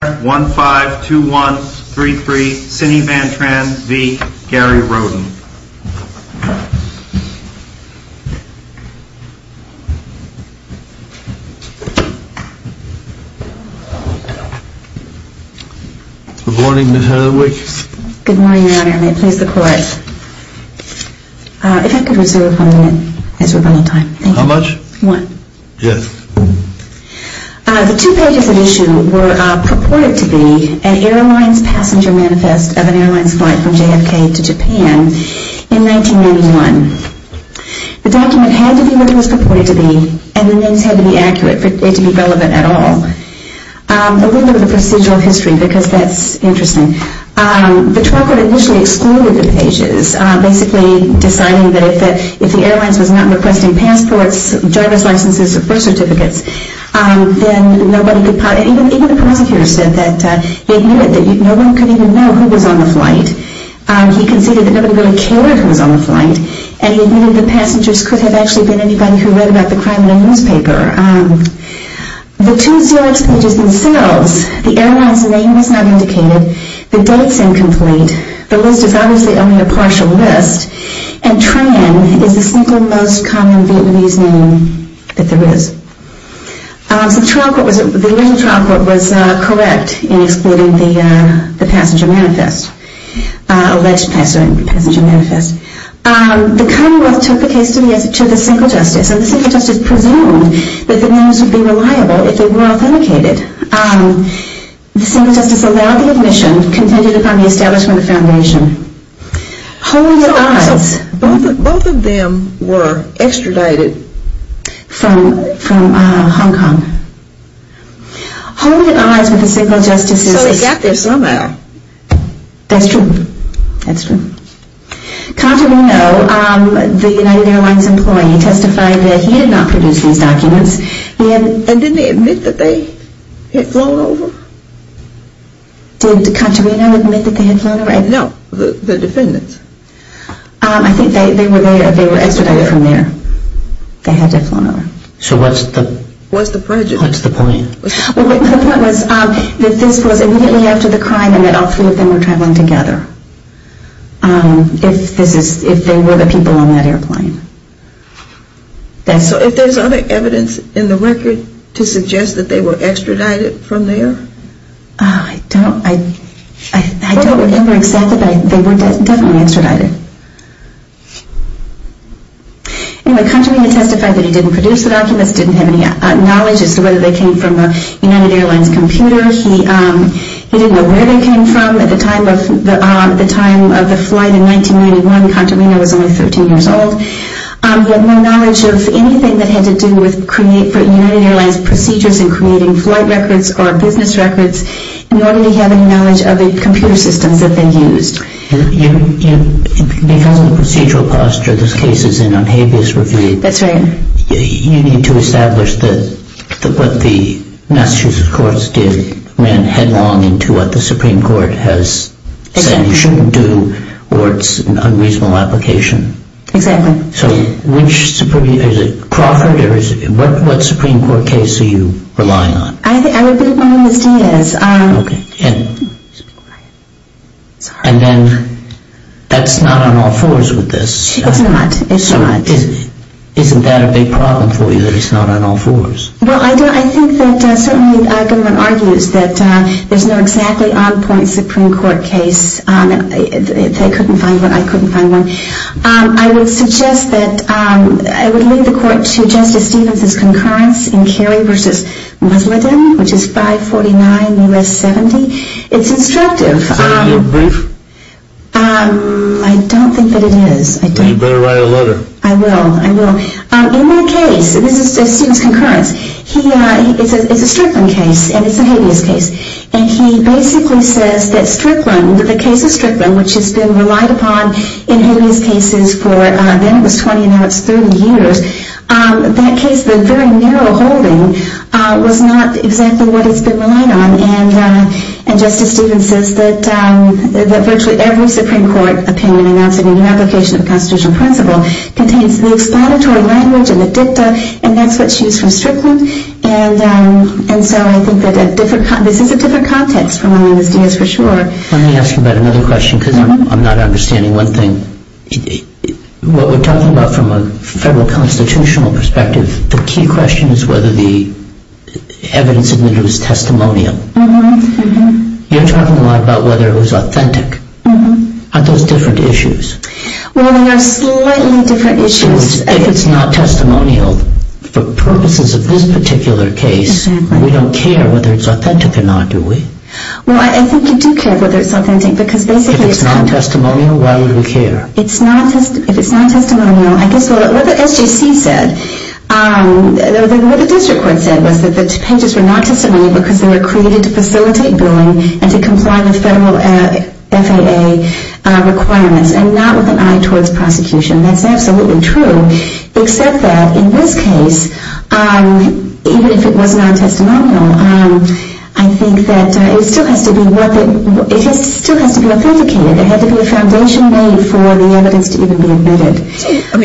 Good morning, Ms. Hathaway. Good morning, Your Honor. May it please the Court, if I could reserve one minute as rebuttal time. How much? One. Yes. The two pages of the issue were purported to be an airline's passenger manifest of an airline's flight from JFK to Japan in 1991. The document had to be what it was purported to be, and the names had to be accurate for it to be relevant at all. A little bit of the procedural history, because that's interesting. The trial court initially excluded the pages, basically deciding that if the airline was not requesting passports, driver's licenses, or birth certificates, then nobody could possibly know who was on the flight. He considered that nobody really cared who was on the flight, and he knew the passengers could have actually been anybody who read about the crime in a newspaper. The two CLX pages themselves, the airline's name was not indicated, the date's incomplete, the list is obviously only a partial list, and Tran is the single most common Vietnamese name that there is. So the original trial court was correct in excluding the passenger manifest, alleged passenger manifest. The Commonwealth took the case to the single justice, and the single justice presumed that the names would be reliable if they were authenticated. The single justice allowed the admission, contended upon the establishment of the foundation. So both of them were extradited? From Hong Kong. So they got there somehow? That's true. That's true. Contorino, the United Airlines employee, testified that he had not produced these documents. And didn't he admit that they had flown over? Did Contorino admit that they had flown over? No, the defendants. I think they were extradited from there. They had to have flown over. So what's the point? The point was that this was immediately after the crime and that all three of them were traveling together. If they were the people on that airplane. So if there's other evidence in the record to suggest that they were extradited from there? I don't remember exactly, but they were definitely extradited. Anyway, Contorino testified that he didn't produce the documents. Didn't have any knowledge as to whether they came from a United Airlines computer. He didn't know where they came from. At the time of the flight in 1991, Contorino was only 13 years old. He had no knowledge of anything that had to do with creating United Airlines procedures and creating flight records or business records. Nor did he have any knowledge of the computer systems that they used. Because of the procedural posture, this case is in unhabeas review. That's right. You need to establish that what the Massachusetts courts did ran headlong into what the Supreme Court has said you shouldn't do or it's an unreasonable application. Exactly. So is it Crawford or what Supreme Court case are you relying on? I would be relying on Diaz. Okay. And then that's not on all fours with this. It's not. Isn't that a big problem for you that it's not on all fours? Well, I think that certainly everyone argues that there's no exactly on point Supreme Court case. They couldn't find one. I couldn't find one. I would suggest that I would leave the court to Justice Stevens' concurrence in Carey v. Musladin, which is 549 U.S. 70. It's instructive. Is that a good brief? I don't think that it is. Then you better write a letter. I will. I will. In that case, this is Stevens' concurrence, it's a Strickland case and it's a habeas case. And he basically says that Strickland, the case of Strickland, which has been relied upon in habeas cases for then it was 20 and now it's 30 years, that case, the very narrow holding, was not exactly what it's been relying on. And Justice Stevens says that virtually every Supreme Court opinion in the application of the constitutional principle contains the explanatory language and the dicta, and that's what she was from Strickland. And so I think that this is a different context from what I understand, that's for sure. Let me ask you about another question because I'm not understanding one thing. What we're talking about from a federal constitutional perspective, the key question is whether the evidence admitted was testimonial. You're talking a lot about whether it was authentic. Aren't those different issues? Well, they are slightly different issues. If it's not testimonial for purposes of this particular case, we don't care whether it's authentic or not, do we? Well, I think you do care whether it's authentic because basically it's not. If it's not testimonial, why would we care? If it's not testimonial, I guess what the SJC said, what the district court said was that the pages were not testimonial because they were created to facilitate billing and to comply with federal FAA requirements and not with an eye towards prosecution. That's absolutely true, except that in this case, even if it was non-testimonial, I think that it still has to be authenticated. There had to be a foundation laid for the evidence to even be admitted.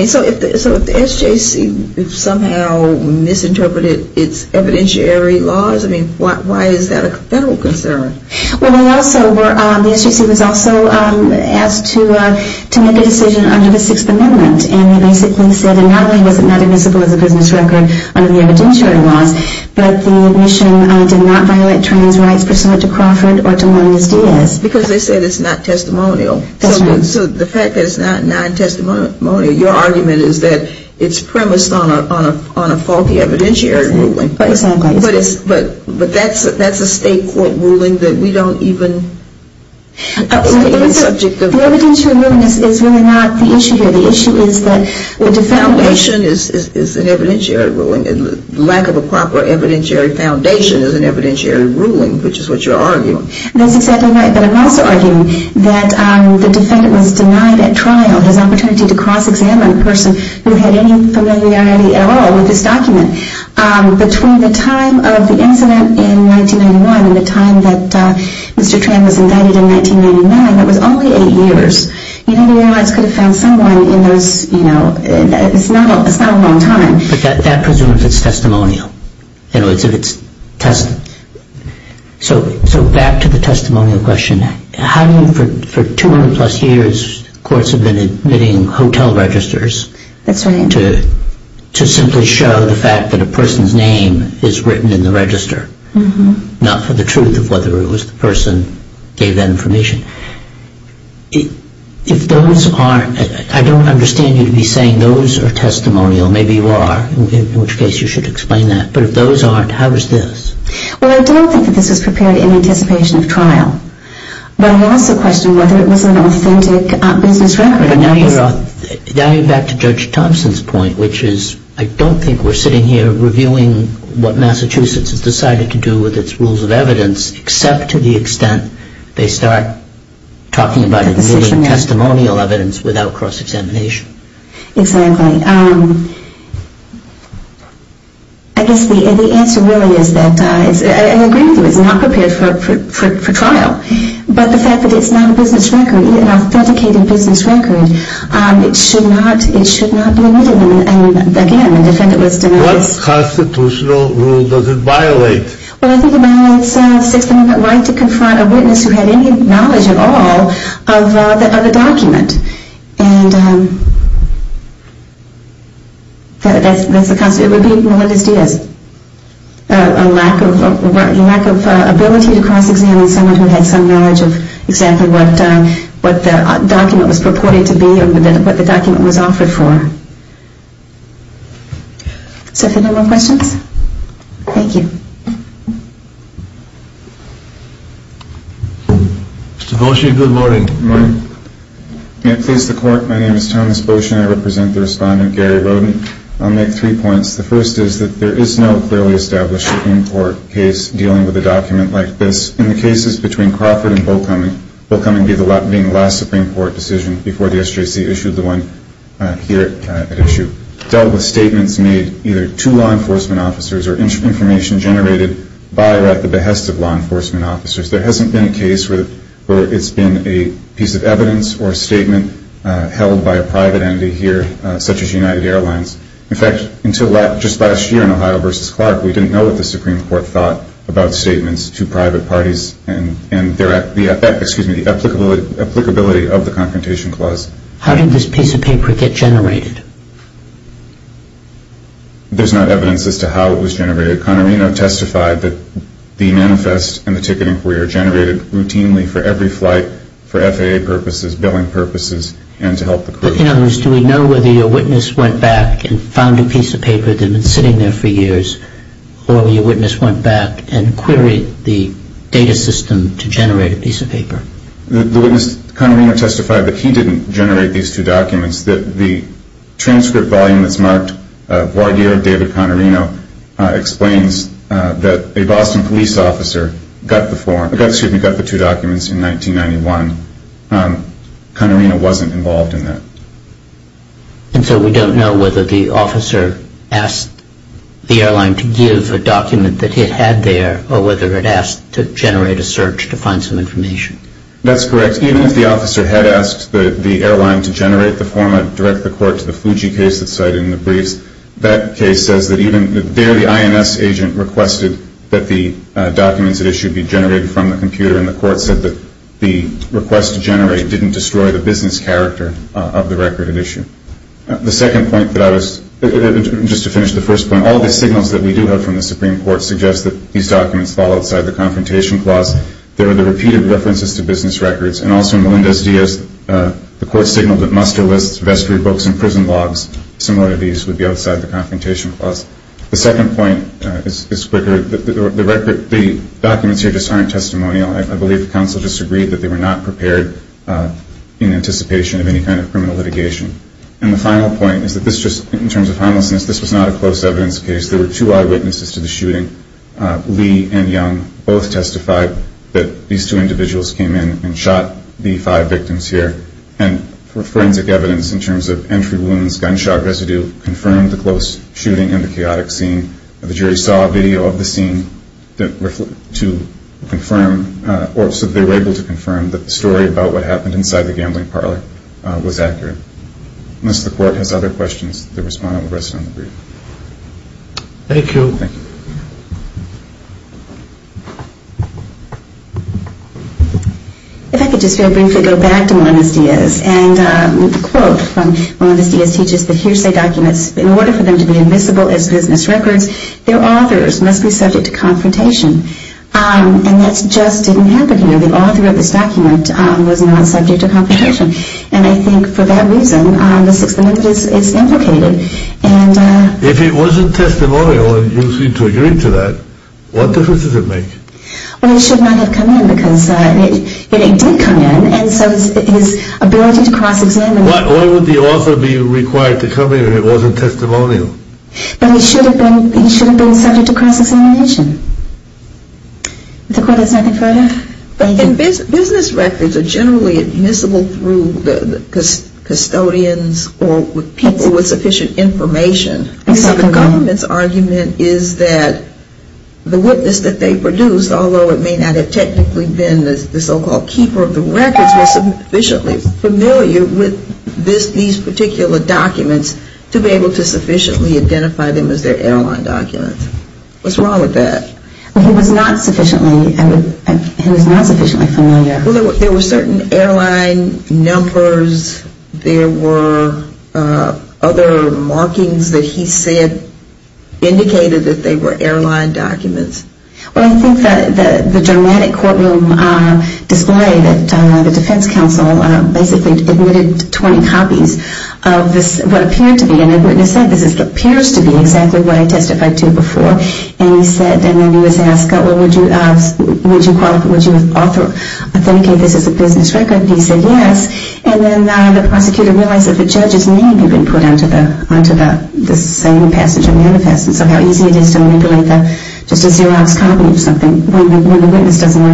So if the SJC somehow misinterpreted its evidentiary laws, why is that a federal concern? Well, the SJC was also asked to make a decision under the Sixth Amendment, and they basically said not only was it not admissible as a business record under the evidentiary laws, but the admission did not violate trans rights pursuant to Crawford or to Munoz-Diaz. Because they said it's not testimonial. That's right. So the fact that it's not non-testimonial, your argument is that it's premised on a faulty evidentiary ruling. Exactly. But that's a state court ruling that we don't even... The evidentiary ruling is really not the issue here. The issue is that the defendant... The foundation is an evidentiary ruling. Lack of a proper evidentiary foundation is an evidentiary ruling, which is what you're arguing. That's exactly right, but I'm also arguing that the defendant was denied at trial his opportunity to cross-examine a person who had any familiarity at all with this document. Between the time of the incident in 1991 and the time that Mr. Tran was indicted in 1999, that was only eight years. You don't even realize he could have found someone in those... It's not a long time. But that presumes it's testimonial. So back to the testimonial question. How do you, for 200-plus years, courts have been admitting hotel registers... That's right. ...to simply show the fact that a person's name is written in the register, not for the truth of whether it was the person who gave that information. If those aren't... I don't understand you to be saying those are testimonial. Maybe you are, in which case you should explain that. But if those aren't, how is this? Well, I don't think that this was prepared in anticipation of trial. But I also question whether it was an authentic business record. Now you're back to Judge Thompson's point, which is I don't think we're sitting here reviewing what Massachusetts has decided to do with its rules of evidence except to the extent they start talking about admitting testimonial evidence without cross-examination. Exactly. I guess the answer really is that I agree with you, it's not prepared for trial. But the fact that it's not a business record, even an authenticated business record, it should not be admitted. And again, the defendant was denounced. What constitutional rule does it violate? Well, I think it violates 6th Amendment right to confront a witness who had any knowledge at all of a document. And that's the... It would be Melendez-Diaz. A lack of ability to cross-examine someone who had some knowledge of exactly what the document was purported to be or what the document was offered for. So are there no more questions? Thank you. Mr. Boshie, good morning. Good morning. May it please the Court, my name is Thomas Boshie and I represent the respondent, Gary Roden. I'll make three points. The first is that there is no clearly established Supreme Court case dealing with a document like this. In the cases between Crawford and Bowcoming, Bowcoming being the last Supreme Court decision before the SJC issued the one here at issue, dealt with statements made either to law enforcement officers or information generated by or at the behest of law enforcement officers. There hasn't been a case where it's been a piece of evidence or a statement held by a private entity here, such as United Airlines. In fact, until just last year in Ohio v. Clark, we didn't know what the Supreme Court thought about statements to private parties and the applicability of the Confrontation Clause. How did this piece of paper get generated? There's not evidence as to how it was generated. Conorino testified that the manifest and the ticket inquiry are generated routinely for every flight, for FAA purposes, billing purposes, and to help the crew. In other words, do we know whether your witness went back and found a piece of paper that had been sitting there for years, or your witness went back and queried the data system to generate a piece of paper? The witness, Conorino, testified that he didn't generate these two documents, that the transcript volume that's marked, Guardier David Conorino, explains that a Boston police officer got the two documents in 1991. Conorino wasn't involved in that. And so we don't know whether the officer asked the airline to give a document that it had there, or whether it asked to generate a search to find some information. That's correct. Even if the officer had asked the airline to generate the format and direct the court to the Fuji case that's cited in the briefs, that case says that even there the INS agent requested that the documents it issued be generated from the computer, and the court said that the request to generate didn't destroy the business character of the record it issued. The second point that I was, just to finish the first point, all the signals that we do have from the Supreme Court suggest that these documents fall outside the confrontation clause. There are the repeated references to business records, and also in Melendez-Diaz the court signaled that muster lists, vestry books, and prison logs, similar to these, would be outside the confrontation clause. The second point is quicker. The documents here just aren't testimonial. I believe the counsel just agreed that they were not prepared in anticipation of any kind of criminal litigation. And the final point is that this just, in terms of homelessness, this was not a close evidence case. There were two eyewitnesses to the shooting. Lee and Young both testified that these two individuals came in and shot the five victims here. And for forensic evidence, in terms of entry wounds, gunshot residue, confirmed the close shooting in the chaotic scene. The jury saw a video of the scene to confirm, or so they were able to confirm, that the story about what happened inside the gambling parlor was accurate. Unless the court has other questions, the respondent will rest on the brief. Thank you. Thank you. If I could just very briefly go back to Melendez-Diaz. And the quote from Melendez-Diaz teaches that hearsay documents, in order for them to be admissible as business records, their authors must be subject to confrontation. And that just didn't happen here. The author of this document was not subject to confrontation. And I think for that reason, the Sixth Amendment is implicated. If it wasn't testimonial, and you seem to agree to that, what difference does it make? Well, it should not have come in, because it did come in. And so his ability to cross-examine. Why would the author be required to come in if it wasn't testimonial? But he should have been subject to cross-examination. If the court has nothing further, thank you. And business records are generally admissible through custodians or people with sufficient information. And so the government's argument is that the witness that they produced, although it may not have technically been the so-called keeper of the records, was sufficiently familiar with these particular documents to be able to sufficiently identify them as their airline documents. What's wrong with that? Well, he was not sufficiently familiar. There were certain airline numbers. There were other markings that he said indicated that they were airline documents. Well, I think the dramatic courtroom display that the defense counsel basically admitted 20 copies of what appeared to be. And the witness said, this appears to be exactly what I testified to before. And he said, and then he was asked, would you authenticate this as a business record? And he said, yes. And then the prosecutor realized that the judge's name had been put onto the same passage of the manifest. And so how easy it is to manipulate just a zero-ounce copy of something when the witness doesn't know anything about it. Thank you.